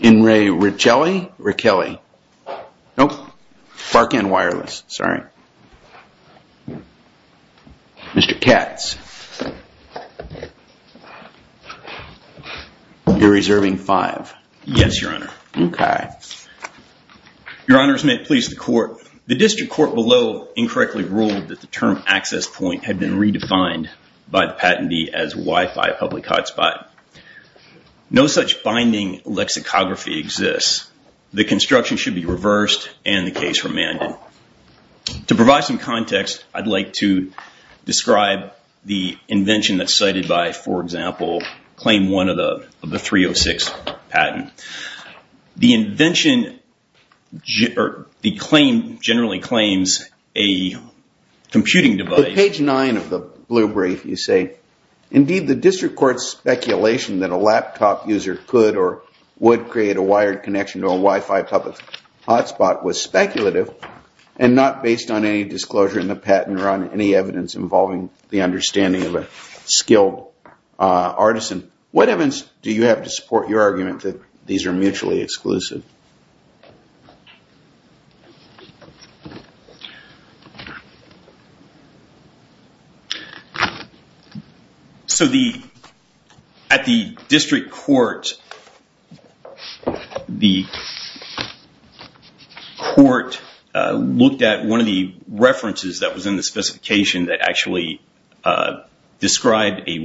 In Ray Rachelli Rachelli Nope. Barking and wireless. Sorry. Mr. Katz. You're reserving five. Yes, your honor. Okay. Your honors may please the court. The district court below incorrectly ruled that the term access point had been redefined by the patentee as Wi-Fi public hotspot. No such binding lexicography exists. The construction should be reversed and the case remanded. To provide some context, I'd like to describe the invention that's cited by, for example, claim one of the 306 patent. The invention or the claim generally claims a computing device. Page nine of the blue brief, you say, indeed, the district court's speculation that a laptop user could or create a wired connection to a Wi-Fi public hotspot was speculative and not based on any disclosure in the patent or on any evidence involving the understanding of a skilled artisan. What evidence do you have to support your argument that these are mutually exclusive? So the, at the district court, the court looked at one of the references that was in the description of a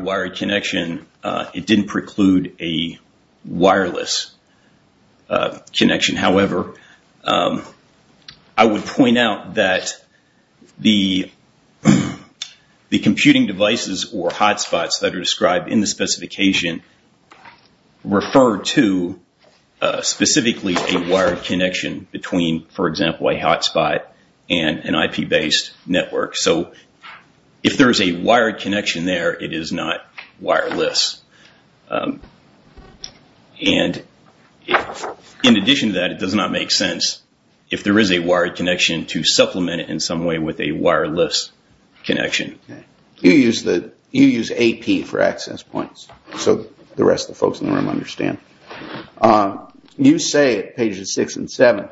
wired connection. It didn't preclude a wireless connection. However, I would point out that the computing devices or hotspots that are described in the specification refer to specifically a wired connection between, for example, a hotspot and an IP-based network. So if there is a wired connection there, it is not wireless. And in addition to that, it does not make sense if there is a wired connection to supplement it in some way with a wireless connection. You use AP for access points so the rest of the folks in the room understand. Um, you say at pages six and seven,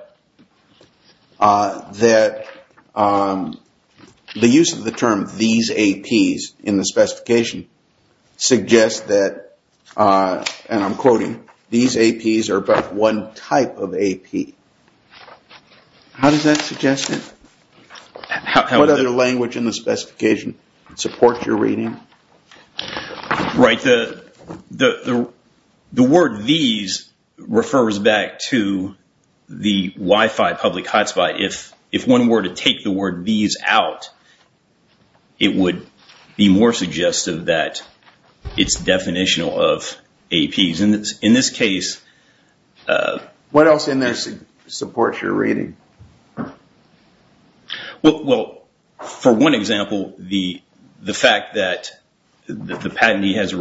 uh, that, um, the use of the term these APs in the specification suggests that, uh, and I'm quoting, these APs are but one type of AP. How does that suggest it? What other language in the specification support your reading? Right. The, the, the, the word these refers back to the Wi-Fi public hotspot. If, if one were to take the word these out, it would be more suggestive that it's definitional of APs. And in this case, uh, What else in there supports your reading? Well, well, for one example, the, the fact that the patentee has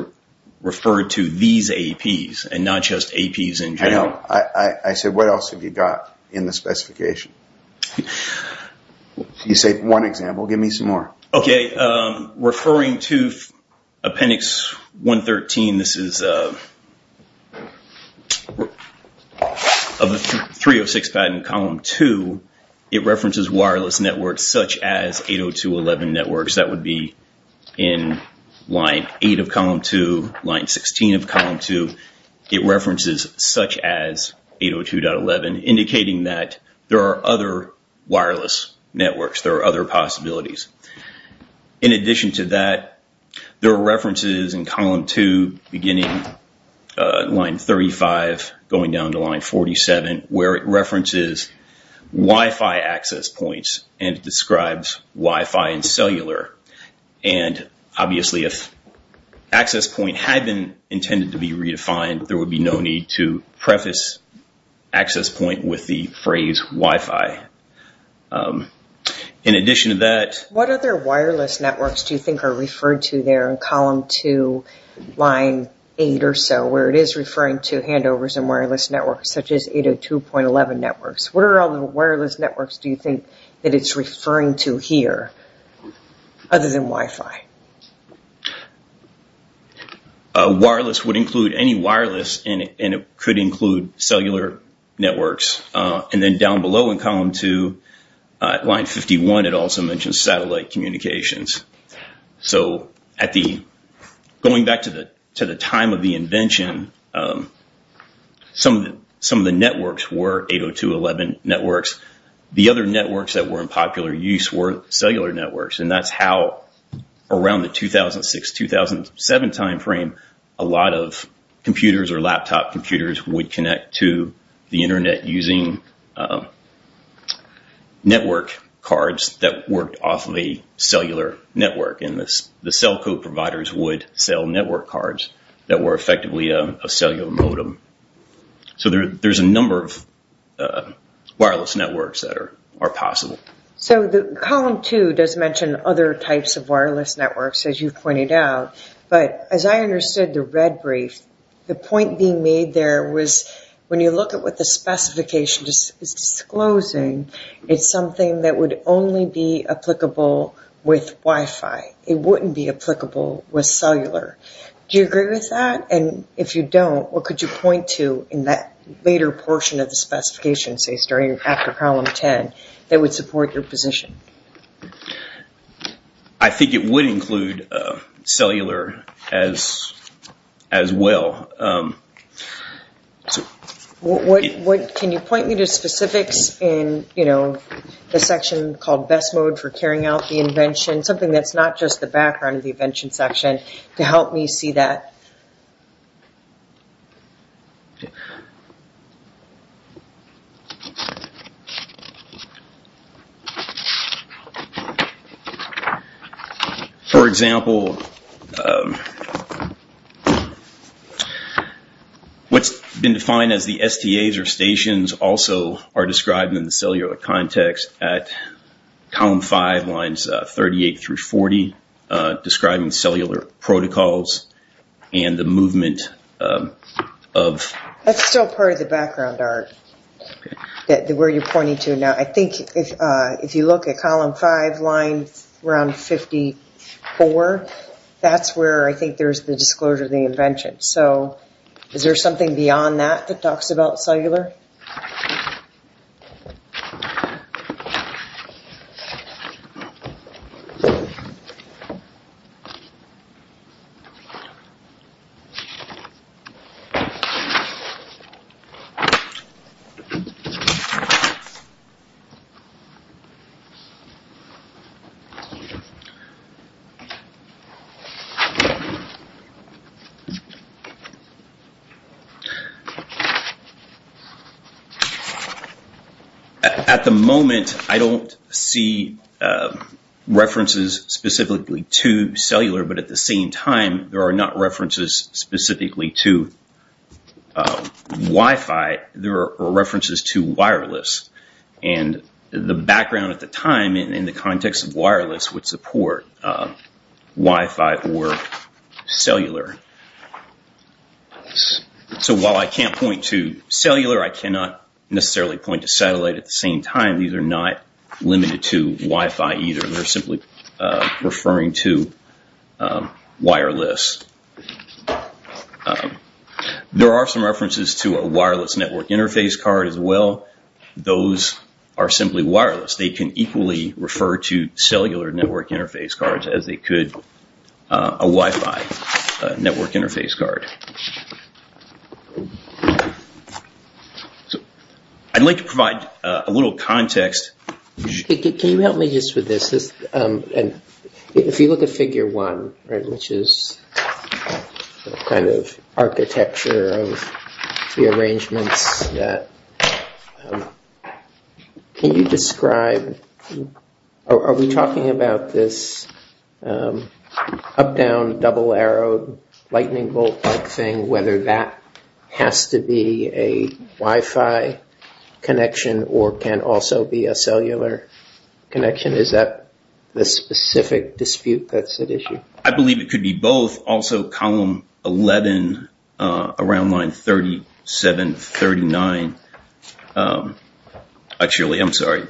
referred to these APs and not just APs in general. I know. I, I, I said, what else have you got in the specification? You say one example, give me some more. Okay. Um, referring to appendix 113, this is, uh, of the 306 patent column two, it references wireless networks, such as 802.11 networks. That would be in line eight of column two, line 16 of column two. It references such as 802.11 indicating that there are other wireless networks. There are other possibilities. In addition to that, there are references in column two, beginning, uh, line 35, going down to line 47, where it references Wi-Fi access points and describes Wi-Fi and cellular. And obviously if access point had been intended to be redefined, there would be no need to What other wireless networks do you think are referred to there in column two, line eight or so, where it is referring to handovers and wireless networks, such as 802.11 networks. What are all the wireless networks do you think that it's referring to here other than Wi-Fi? A wireless would include any wireless and it could include cellular networks. And then down in column two, uh, line 51, it also mentioned satellite communications. So at the, going back to the, to the time of the invention, um, some of the, some of the networks were 802.11 networks. The other networks that were in popular use were cellular networks. And that's how around the 2006, 2007 timeframe, a lot of computers or laptop computers would connect to the internet using, um, network cards that worked off of a cellular network. And this, the cell code providers would sell network cards that were effectively a cellular modem. So there, there's a number of, uh, wireless networks that are, are possible. So the column two does mention other types of wireless networks, as you've pointed out, but as I understood the red brief, the point being made there was when you look at what the specification is disclosing, it's something that would only be applicable with Wi-Fi. It wouldn't be applicable with cellular. Do you agree with that? And if you don't, what could you point to in that later portion of the specification, say, starting after column 10 that would support your position? Um, I think it would include, uh, cellular as, as well. Um, so what, what can you point me to specifics in, you know, the section called best mode for carrying out the invention, something that's not just the background of the invention section to help me see that? For example, um, what's been defined as the STAs or stations also are described in the cellular context at column five lines, uh, 38 through 40, uh, describing cellular protocols and the movement of, that's still part of the background art where you're pointing to. Now, I think if, uh, if you look at column five lines around 54, that's where I think there's the disclosure of the invention. So is there something beyond that that talks about cellular? There may be, uh, references specifically to cellular, but at the same time, there are not references specifically to, uh, Wi-Fi. There are references to wireless and the background at the time in the context of wireless would support, uh, Wi-Fi or cellular. So while I can't point to cellular, I cannot necessarily point to satellite at the same time. These are not limited to Wi-Fi either. They're simply, uh, referring to, um, wireless. There are some references to a wireless network interface card as well. Those are simply wireless. They can equally refer to cellular network interface cards as they could, uh, a Wi-Fi network interface card. So I'd like to provide a little context. Can you help me just with this? This, um, and if you look at figure one, right, which is kind of architecture of the arrangements that, um, can you describe, are we talking about this, um, up-down double arrow lightning bolt like thing, whether that has to be a Wi-Fi connection or can also be a cellular connection? Is that the specific dispute that's at issue? I believe it could be both. Also column 11, uh, around line 37, 39, um, actually, I'm sorry,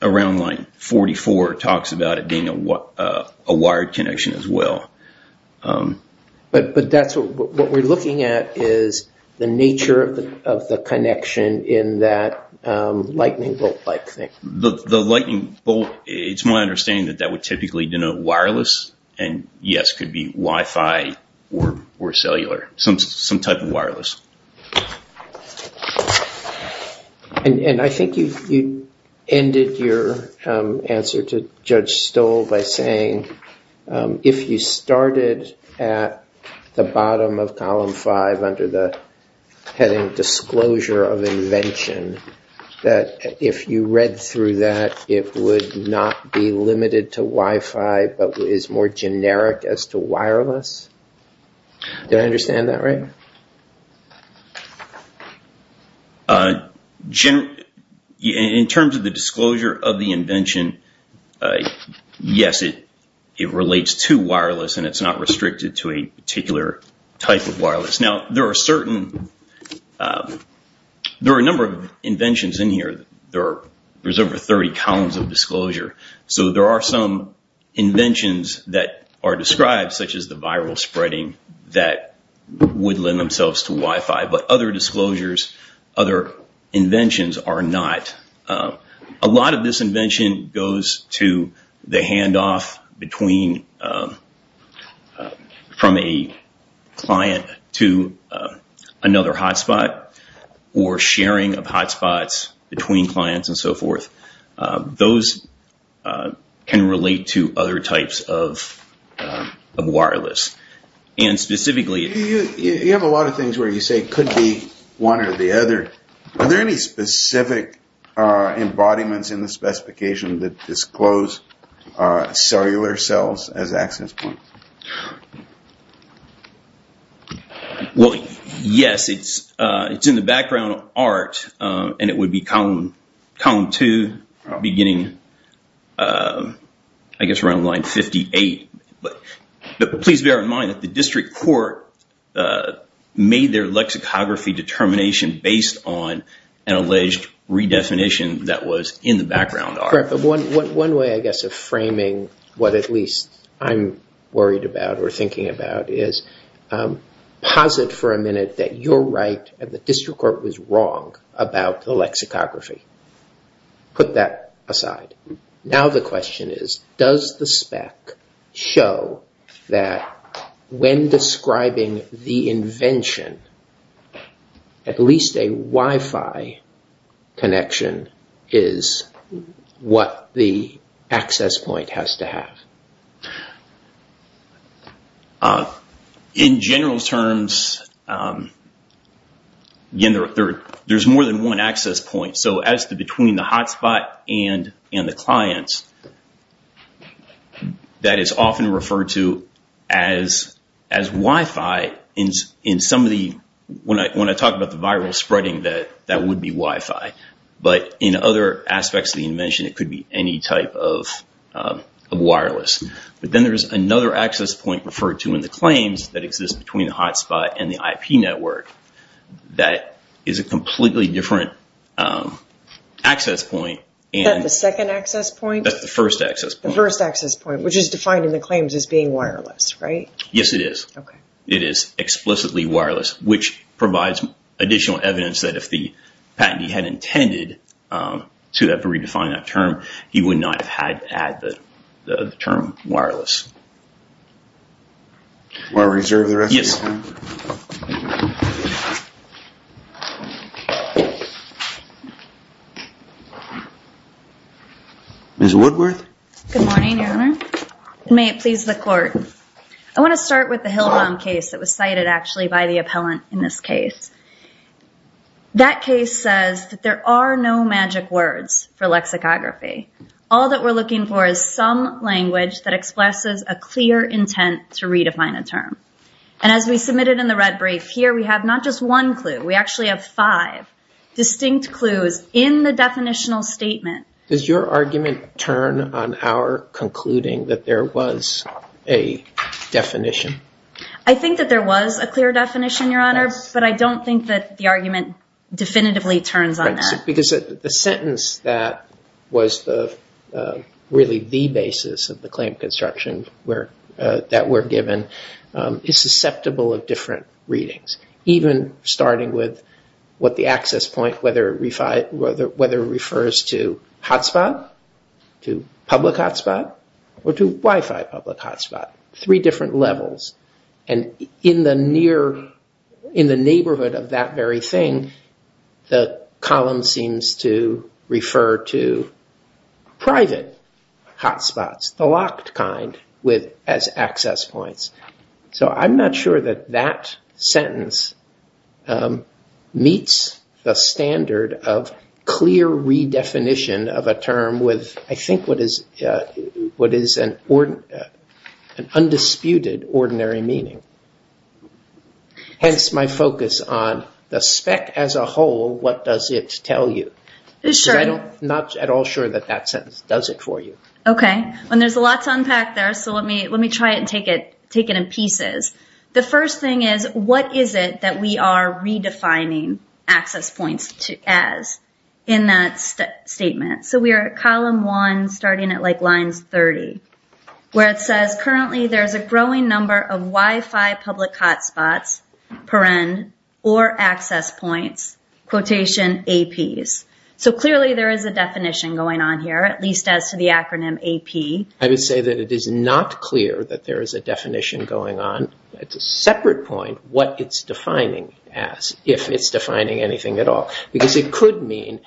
around line 44 talks about it being a, uh, a wired connection as well. Um, but, but that's what we're looking at is the nature of the, of the connection in that, um, lightning bolt like thing. The lightning bolt, it's my understanding that that would typically denote wireless and yes, could be Wi-Fi or cellular, some, some type of wireless. Okay. And, and I think you, you ended your, um, answer to Judge Stoll by saying, um, if you started at the bottom of column five under the heading disclosure of invention, that if you read through that, it would not be limited to Wi-Fi, but is more generic as to wireless. Do I understand that right? Uh, generally, in terms of the disclosure of the invention, uh, yes, it, it relates to wireless and it's not restricted to a particular type of wireless. Now there are certain, um, there are a number of inventions in here. There are, there's over 30 columns of disclosure. So there are some inventions that are described such as the viral spreading that would lend themselves to Wi-Fi, but other disclosures, other inventions are not. A lot of this invention goes to the handoff between, um, uh, from a client to, uh, another hotspot or sharing of hotspots between clients and so forth. Uh, those, uh, can relate to other types of, um, of wireless. And specifically, you have a lot of things where you say could be one or the other. Are there any specific, uh, embodiments in the specification that disclose, uh, cellular cells as access points? Well, yes, it's, uh, it's in the background art, um, and it would be column, column two beginning, um, I guess around line 58, but please bear in mind that the district court, uh, made their lexicography determination based on an alleged redefinition that was in the background art. One way, I guess, of framing what at least I'm worried about or thinking about is, um, posit for a minute that you're right and the district court was wrong about the lexicography. Put that aside. Now the question is, does the spec show that when describing the invention, at least a wifi connection is what the access point has to have? Uh, in general terms, um, again, there, there, there's more than one access point. So as the, between the hotspot and, and the clients that is often referred to as, as wifi in, in some of the, when I, when I talk about the viral spreading that that would be wifi, but in other aspects of the invention, it could be any type of, um, of wireless. But then there's another access point referred to in the claims that exists between the hotspot and the IP network that is a completely different, um, access point. And the second access point, that's the first access, the first access point, which is defined in the claims as being wireless, right? Yes, it is. It is explicitly wireless, which provides additional evidence that if the you would not have had to add the term wireless. Ms. Woodworth. Good morning, Your Honor. May it please the court. I want to start with the Hillel case that was cited actually by the appellant in this case. That case says that there are no magic words for lexicography. All that we're looking for is some language that expresses a clear intent to redefine a term. And as we submitted in the red brief here, we have not just one clue. We actually have five distinct clues in the definitional statement. Does your argument turn on our concluding that there was a definition? I think that there was a clear definition, Your Honor, but I don't think that the argument definitively turns on that. Because the sentence that was the, really the basis of the claim construction that we're given is susceptible of different readings, even starting with what the access point, whether it refers to hotspot, to public hotspot, or to Wi-Fi public hotspot, three different levels. And in the neighborhood of that very thing, the column seems to refer to private hotspots, the locked kind, as access points. So I'm not sure that that sentence meets the standard of clear redefinition of a term with, I think, what is an undisputed ordinary meaning. Hence my focus on the spec as a whole, what does it tell you? Because I'm not at all sure that that sentence does it for you. Okay. Well, there's a lot to unpack there. So let me try it and take it in pieces. The first thing is, what is it that we are redefining access points as in that statement? So we are at column one, starting at lines 30, where it says, currently there's a growing number of Wi-Fi public hotspots per end, or access points, quotation APs. So clearly there is a definition going on here, at least as to the acronym AP. I would say that it is not clear that there is a definition going on. It's a separate point what it's defining as, if it's defining anything at all. Because it could mean,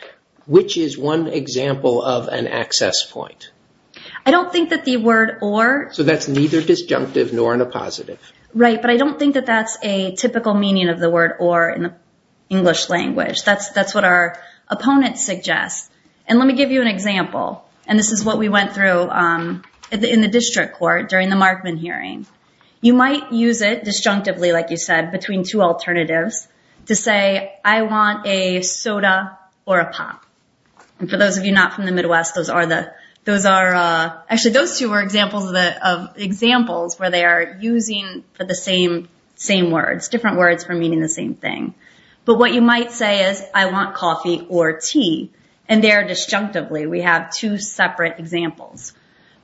which is one example of an access point? I don't think that the word or... So that's neither disjunctive nor in a positive. Right. But I don't think that that's a typical meaning of the word or in the English language. That's what our opponent suggests. And let me give you an example. And this is what we went through in the district court during the Markman hearing. You might use it disjunctively, like you to say, I want a soda or a pop. And for those of you not from the Midwest, those are the... Actually, those two were examples of examples where they are using for the same words, different words for meaning the same thing. But what you might say is, I want coffee or tea. And there disjunctively, we have two separate examples.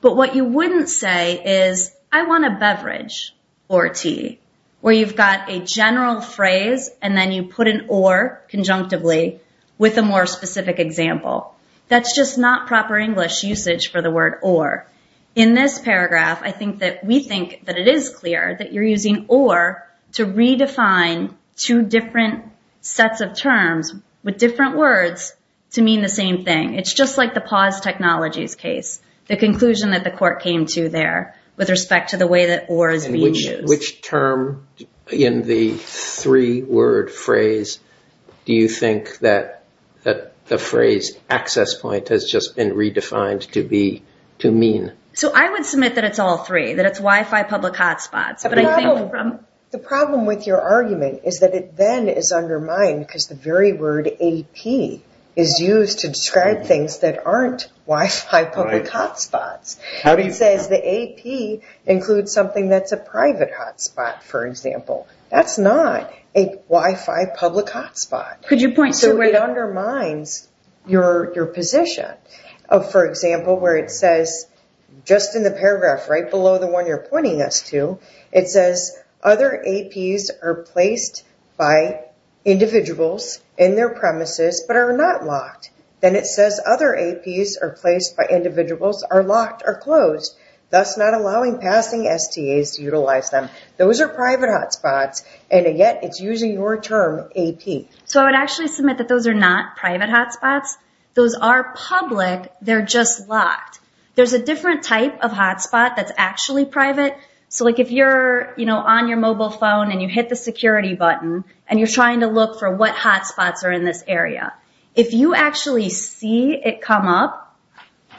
But what you wouldn't say is, I want a beverage or tea. Where you've got a general phrase and then you put an or conjunctively with a more specific example. That's just not proper English usage for the word or. In this paragraph, I think that we think that it is clear that you're using or to redefine two different sets of terms with different words to mean the same thing. It's just like pause technologies case, the conclusion that the court came to there with respect to the way that or is being used. Which term in the three-word phrase do you think that the phrase access point has just been redefined to mean? So I would submit that it's all three, that it's Wi-Fi public hotspots. The problem with your argument is that it then is undermined because the very word AP is used to describe things that aren't Wi-Fi public hotspots. It says the AP includes something that's a private hotspot, for example. That's not a Wi-Fi public hotspot. So it undermines your position. For example, where it says, just in the paragraph right below the one you're are not locked. Then it says other APs are placed by individuals are locked or closed, thus not allowing passing STAs to utilize them. Those are private hotspots and yet it's using your term AP. So I would actually submit that those are not private hotspots. Those are public, they're just locked. There's a different type of hotspot that's actually private. So like if you're, you know, on your mobile phone and you hit the security button and you're trying to look for what hotspots are in this area. If you actually see it come up,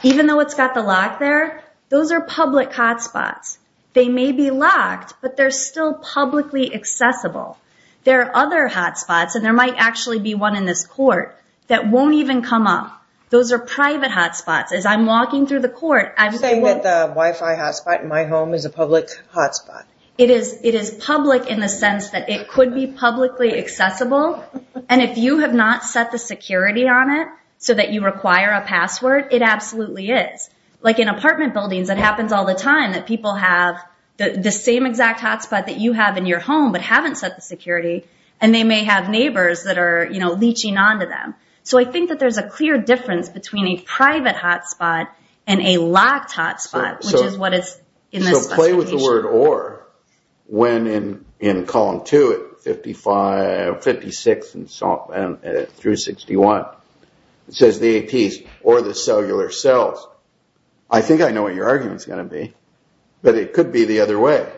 even though it's got the lock there, those are public hotspots. They may be locked, but they're still publicly accessible. There are other hotspots and there might actually be one in this court that won't even come up. Those are private hotspots. As I'm walking through the court, I'm saying that the Wi-Fi hotspot in my home is a public hotspot. It is public in the sense that it could be publicly accessible. And if you have not set the security on it so that you require a password, it absolutely is. Like in apartment buildings, it happens all the time that people have the same exact hotspot that you have in your home, but haven't set the security. And they may have neighbors that are, you know, leeching onto them. So I think that there's a clear difference between a private hotspot and a locked hotspot, which is in this specification. So play with the word or, when in column two at 56 through 61, it says the APs or the cellular cells. I think I know what your argument is going to be, but it could be the other way.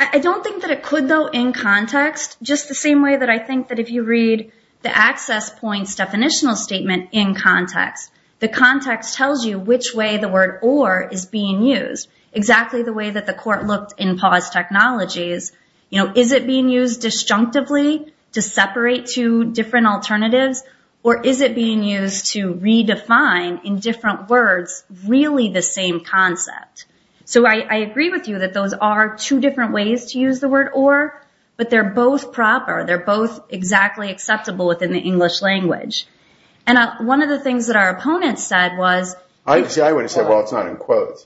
I don't think that it could though in context, just the same way that I think that if you read the access points definitional statement in context, the context tells you which way the word or is being used exactly the way that the court looked in pause technologies. You know, is it being used disjunctively to separate two different alternatives, or is it being used to redefine in different words, really the same concept? So I agree with you that those are two different ways to use the word or, but they're both proper. They're both exactly acceptable within the English language. And one of the things that our opponents said was, I wouldn't say, well, it's not in quotes.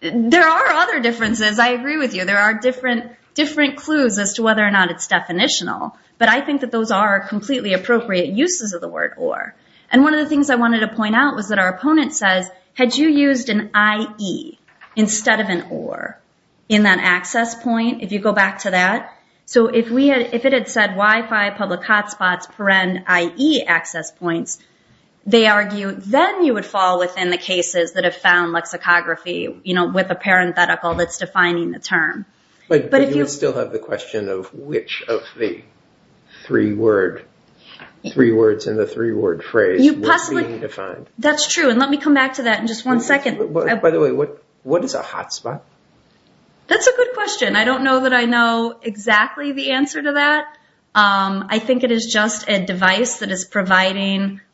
There are other differences. I agree with you. There are different clues as to whether or not it's definitional, but I think that those are completely appropriate uses of the word or. And one of the things I wanted to point out was that our opponent says, had you used an IE instead of an or in that access point, if you go back to that. So if it had said Wi-Fi public hotspots per end IE access points, they argue then you would fall within the cases that have found lexicography, you know, with a parenthetical that's defining the term. But you still have the question of which of the three words in the three word phrase was being defined. That's true. And let me come back to that in just one second. By the way, what is a hotspot? That's a good question. I don't know that I know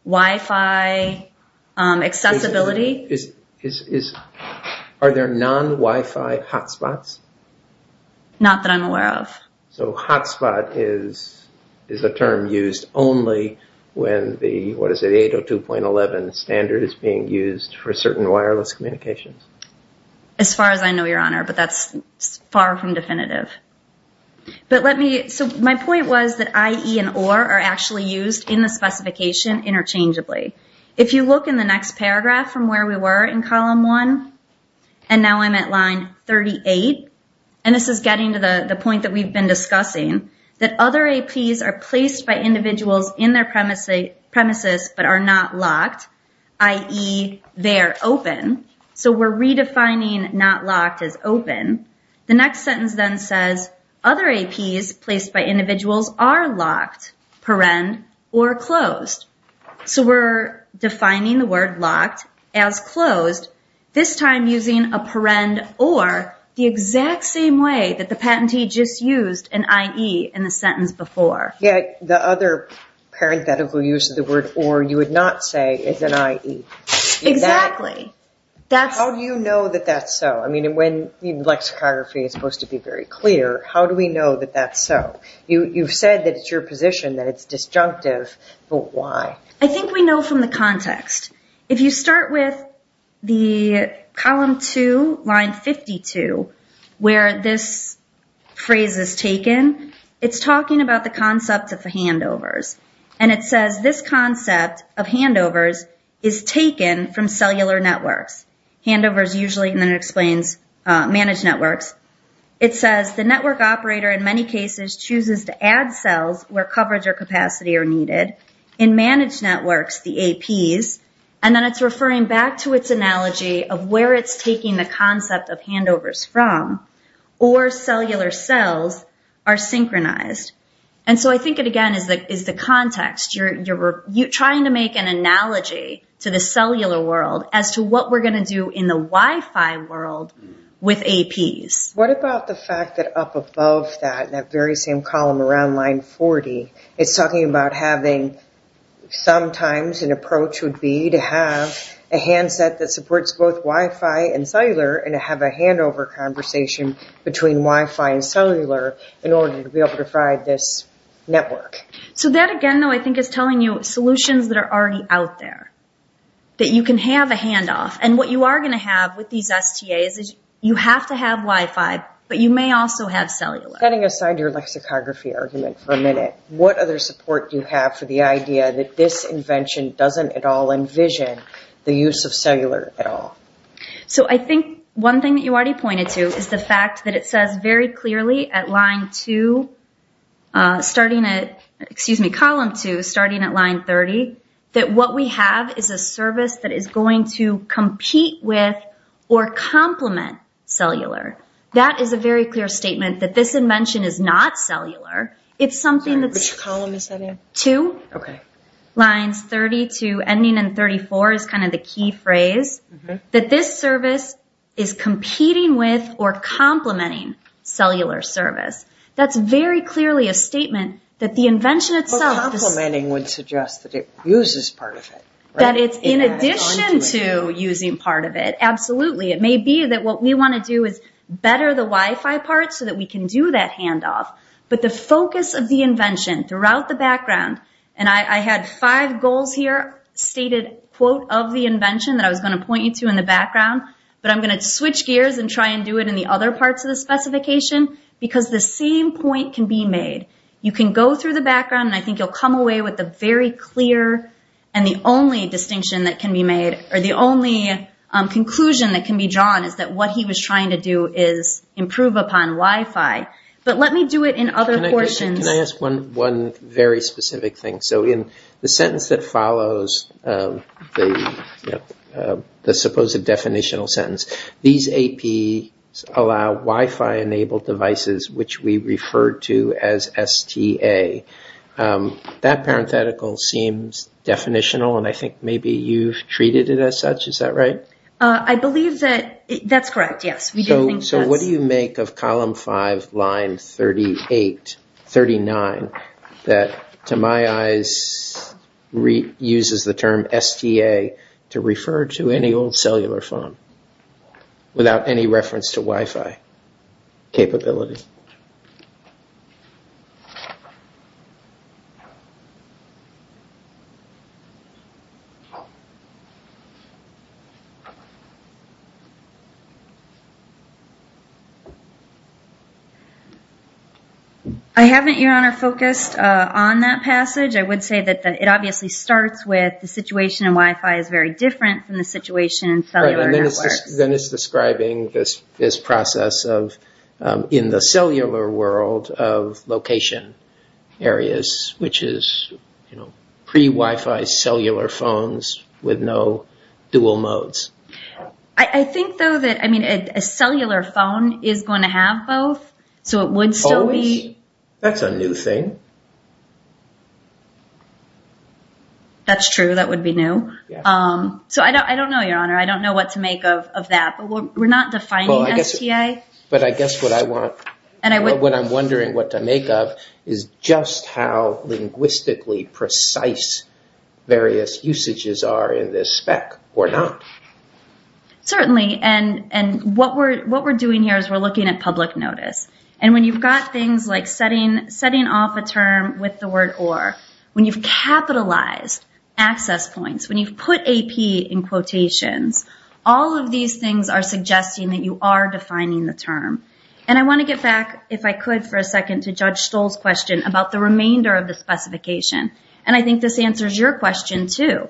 that. Are there non-Wi-Fi hotspots? Not that I'm aware of. So hotspot is a term used only when the 802.11 standard is being used for certain wireless communications? As far as I know, your honor, but that's far from definitive. So my point was that IE and or are actually used in the paragraph from where we were in column one. And now I'm at line 38. And this is getting to the point that we've been discussing. That other APs are placed by individuals in their premises but are not locked. IE they're open. So we're redefining not locked as open. The next sentence then says other APs placed by individuals are locked per end or closed. So we're defining the word locked as closed, this time using a per end or the exact same way that the patentee just used an IE in the sentence before. Yet the other parenthetical use of the word or you would not say is an IE. Exactly. How do you know that that's so? I mean, when the lexicography is supposed to be very clear, how do we know that that's so? You've said that it's your position that it's disjunctive, but why? I think we know from the context. If you start with the column two, line 52, where this phrase is taken, it's talking about the concept of handovers. And it says this concept of handovers is taken from cellular networks. Handovers usually, and then it explains managed networks. It says the network operator in many cases chooses to add cells where coverage or capacity are needed in managed networks, the APs. And then it's referring back to its analogy of where it's taking the concept of handovers from or cellular cells are synchronized. And so I think it again is the context. Trying to make an analogy to the cellular world as to what we're going to do in the Wi-Fi world with APs. What about the fact that up above that, that very same column around line 40, it's talking about having sometimes an approach would be to have a handset that supports both Wi-Fi and cellular, and to have a handover conversation between Wi-Fi and cellular in order to be able to provide this network. So that again, though, I think is telling you solutions that are already out there, that you can have a handoff. And what you are going to have with these STAs you have to have Wi-Fi, but you may also have cellular. Setting aside your lexicography argument for a minute, what other support do you have for the idea that this invention doesn't at all envision the use of cellular at all? So I think one thing that you already pointed to is the fact that it says very clearly at line two, starting at, excuse me, column two, starting at line 30, that what we have is a service that is compete with or complement cellular. That is a very clear statement that this invention is not cellular. It's something that's... Which column is that in? Two lines, 32 ending in 34 is kind of the key phrase, that this service is competing with or complementing cellular service. That's very clearly a statement that the invention itself... But complementing would suggest that it uses part of it, right? In addition to using part of it, absolutely. It may be that what we want to do is better the Wi-Fi part so that we can do that handoff. But the focus of the invention throughout the background, and I had five goals here, stated quote of the invention that I was going to point you to in the background, but I'm going to switch gears and try and do it in the other parts of the specification because the same point can be made. You can go through the background and I think you'll come away with a very clear and the only distinction that can be made or the only conclusion that can be drawn is that what he was trying to do is improve upon Wi-Fi. But let me do it in other portions. Can I ask one very specific thing? So in the sentence that follows, the supposed definitional sentence, these AP allow Wi-Fi enabled devices, which we refer to as STA, that parenthetical seems definitional and I think maybe you've treated it as such, is that right? I believe that that's correct, yes. So what do you make of column five, line 38, 39, that to my eyes uses the term STA to refer to any old cellular phone without any reference to Wi-Fi capability? I haven't, Your Honor, focused on that passage. I would say that it obviously starts with the situation in Wi-Fi is very different from the situation in cellular networks. Then it's describing this process of in the cellular world of location areas, which is pre-Wi-Fi cellular phones with no dual modes. I think though that a cellular phone is going to have both, so it would still be- That's a new thing. That's true, that would be new. So I don't know, Your Honor, I don't know what to make of that, but we're not defining STA. But I guess what I'm wondering what to make of is just how linguistically precise various usages are in this spec or not. Certainly, and what we're doing here is we're looking at public notice. And when you've got things like setting off a term with the word or, when you've in quotations, all of these things are suggesting that you are defining the term. And I want to get back, if I could, for a second to Judge Stoll's question about the remainder of the specification. And I think this answers your question too.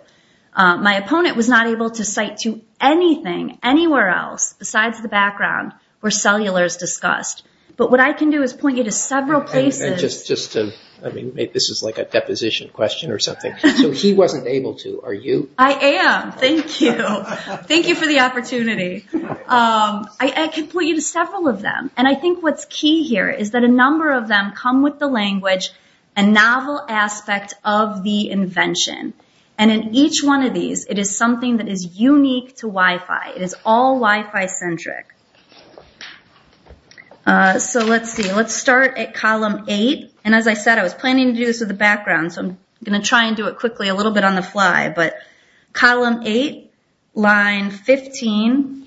My opponent was not able to cite to anything anywhere else besides the background where cellular is discussed. But what I can do is point you to several places- And just to, I mean, this is like a deposition question or something. So he wasn't able to, are you? I am. Thank you. Thank you for the opportunity. I can point you to several of them. And I think what's key here is that a number of them come with the language, a novel aspect of the invention. And in each one of these, it is something that is unique to Wi-Fi. It is all Wi-Fi centric. So let's see. Let's start at column eight. And as I said, I was planning to do this with the background. So I'm going to try and do it quickly a little bit on the fly. But column eight, line 15,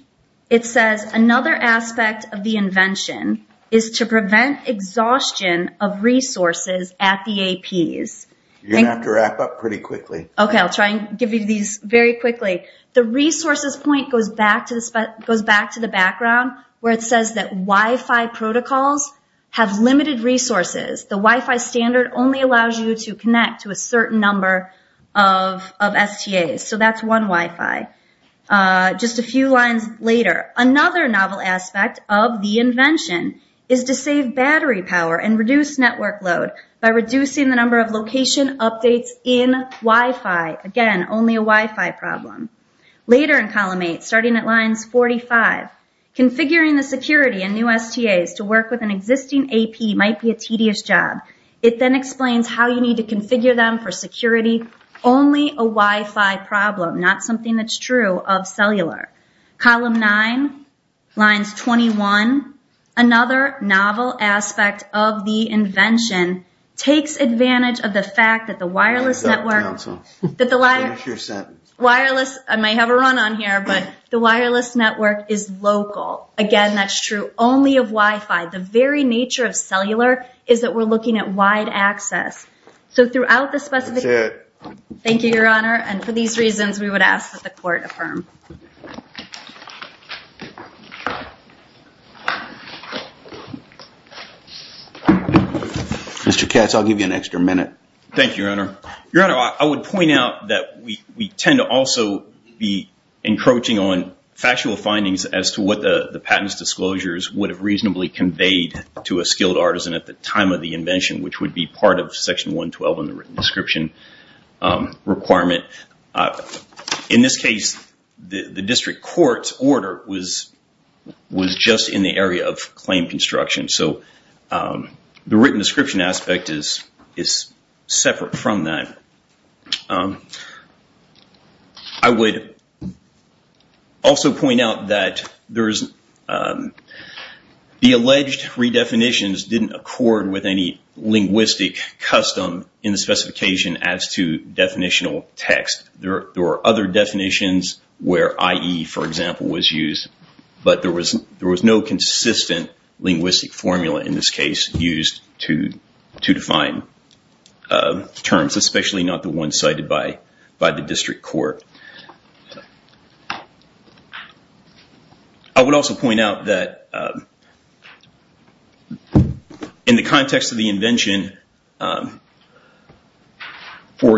it says another aspect of the invention is to prevent exhaustion of resources at the APs. You're going to have to wrap up pretty quickly. Okay. I'll try and give you these very quickly. The resources point goes back to the background where it says that Wi-Fi protocols have limited resources. The Wi-Fi standard only allows you to connect to a certain number of STAs. So that's one Wi-Fi. Just a few lines later. Another novel aspect of the invention is to save battery power and reduce network load by reducing the number of location updates in Wi-Fi. Again, only a Wi-Fi problem. Later in column eight, starting at lines 45, configuring the security and new STAs to work with an existing AP might be a tedious job. It then explains how you need to configure them for security. Only a Wi-Fi problem, not something that's true of cellular. Column nine, lines 21, another novel aspect of the invention takes advantage of the fact that the wireless network... Council, finish your sentence. Wireless, I may have a run on here, but the wireless network is local. Again, that's true only of Wi-Fi. The very nature of cellular is that we're looking at wide access. So throughout the specific... That's it. Thank you, Your Honor. And for these reasons, we would ask that the court affirm. Mr. Katz, I'll give you an extra minute. Thank you, Your Honor. Your Honor, I would point out that we tend to also be encroaching on factual findings as to what the patent's disclosures would have reasonably conveyed to a skilled artisan at the time of the invention, which would be part of section 112 in the written description requirement. In this case, the district court's order was just in the area of claim construction. So the written description aspect is separate from that. I would also point out that the alleged redefinitions didn't accord with any linguistic custom in the specification as to definitional text. There were other definitions where IE, for example, was used, but there was no consistent linguistic formula in this case used to define terms, especially not the one cited by the district court. I would also point out that in the context of the invention, for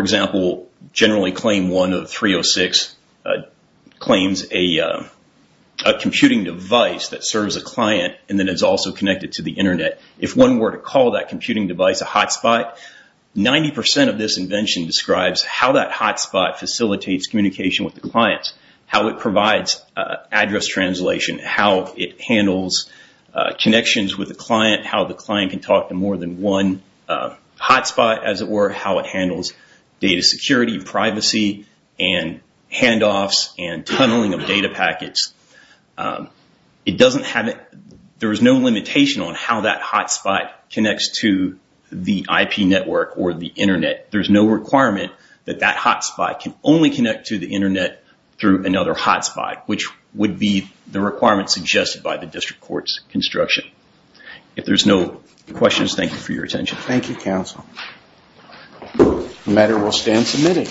example, generally claim one of 306 claims a computing device that serves a client and then is also connected to the internet. If one were to call that computing device a hotspot, 90% of this invention describes how that hotspot facilitates communication with the clients, how it provides address translation, how it handles connections with the client, how the client can talk to more than one hotspot, as it were, how it handles data security, privacy, and handoffs, and tunneling of data packets. There is no limitation on how that hotspot connects to the IP network or the internet. There's no requirement that that hotspot can only connect to the internet through another hotspot, which would be the requirement suggested by the district court's construction. If there's no questions, thank you for your attention. Thank you, counsel. The matter will stand submitted.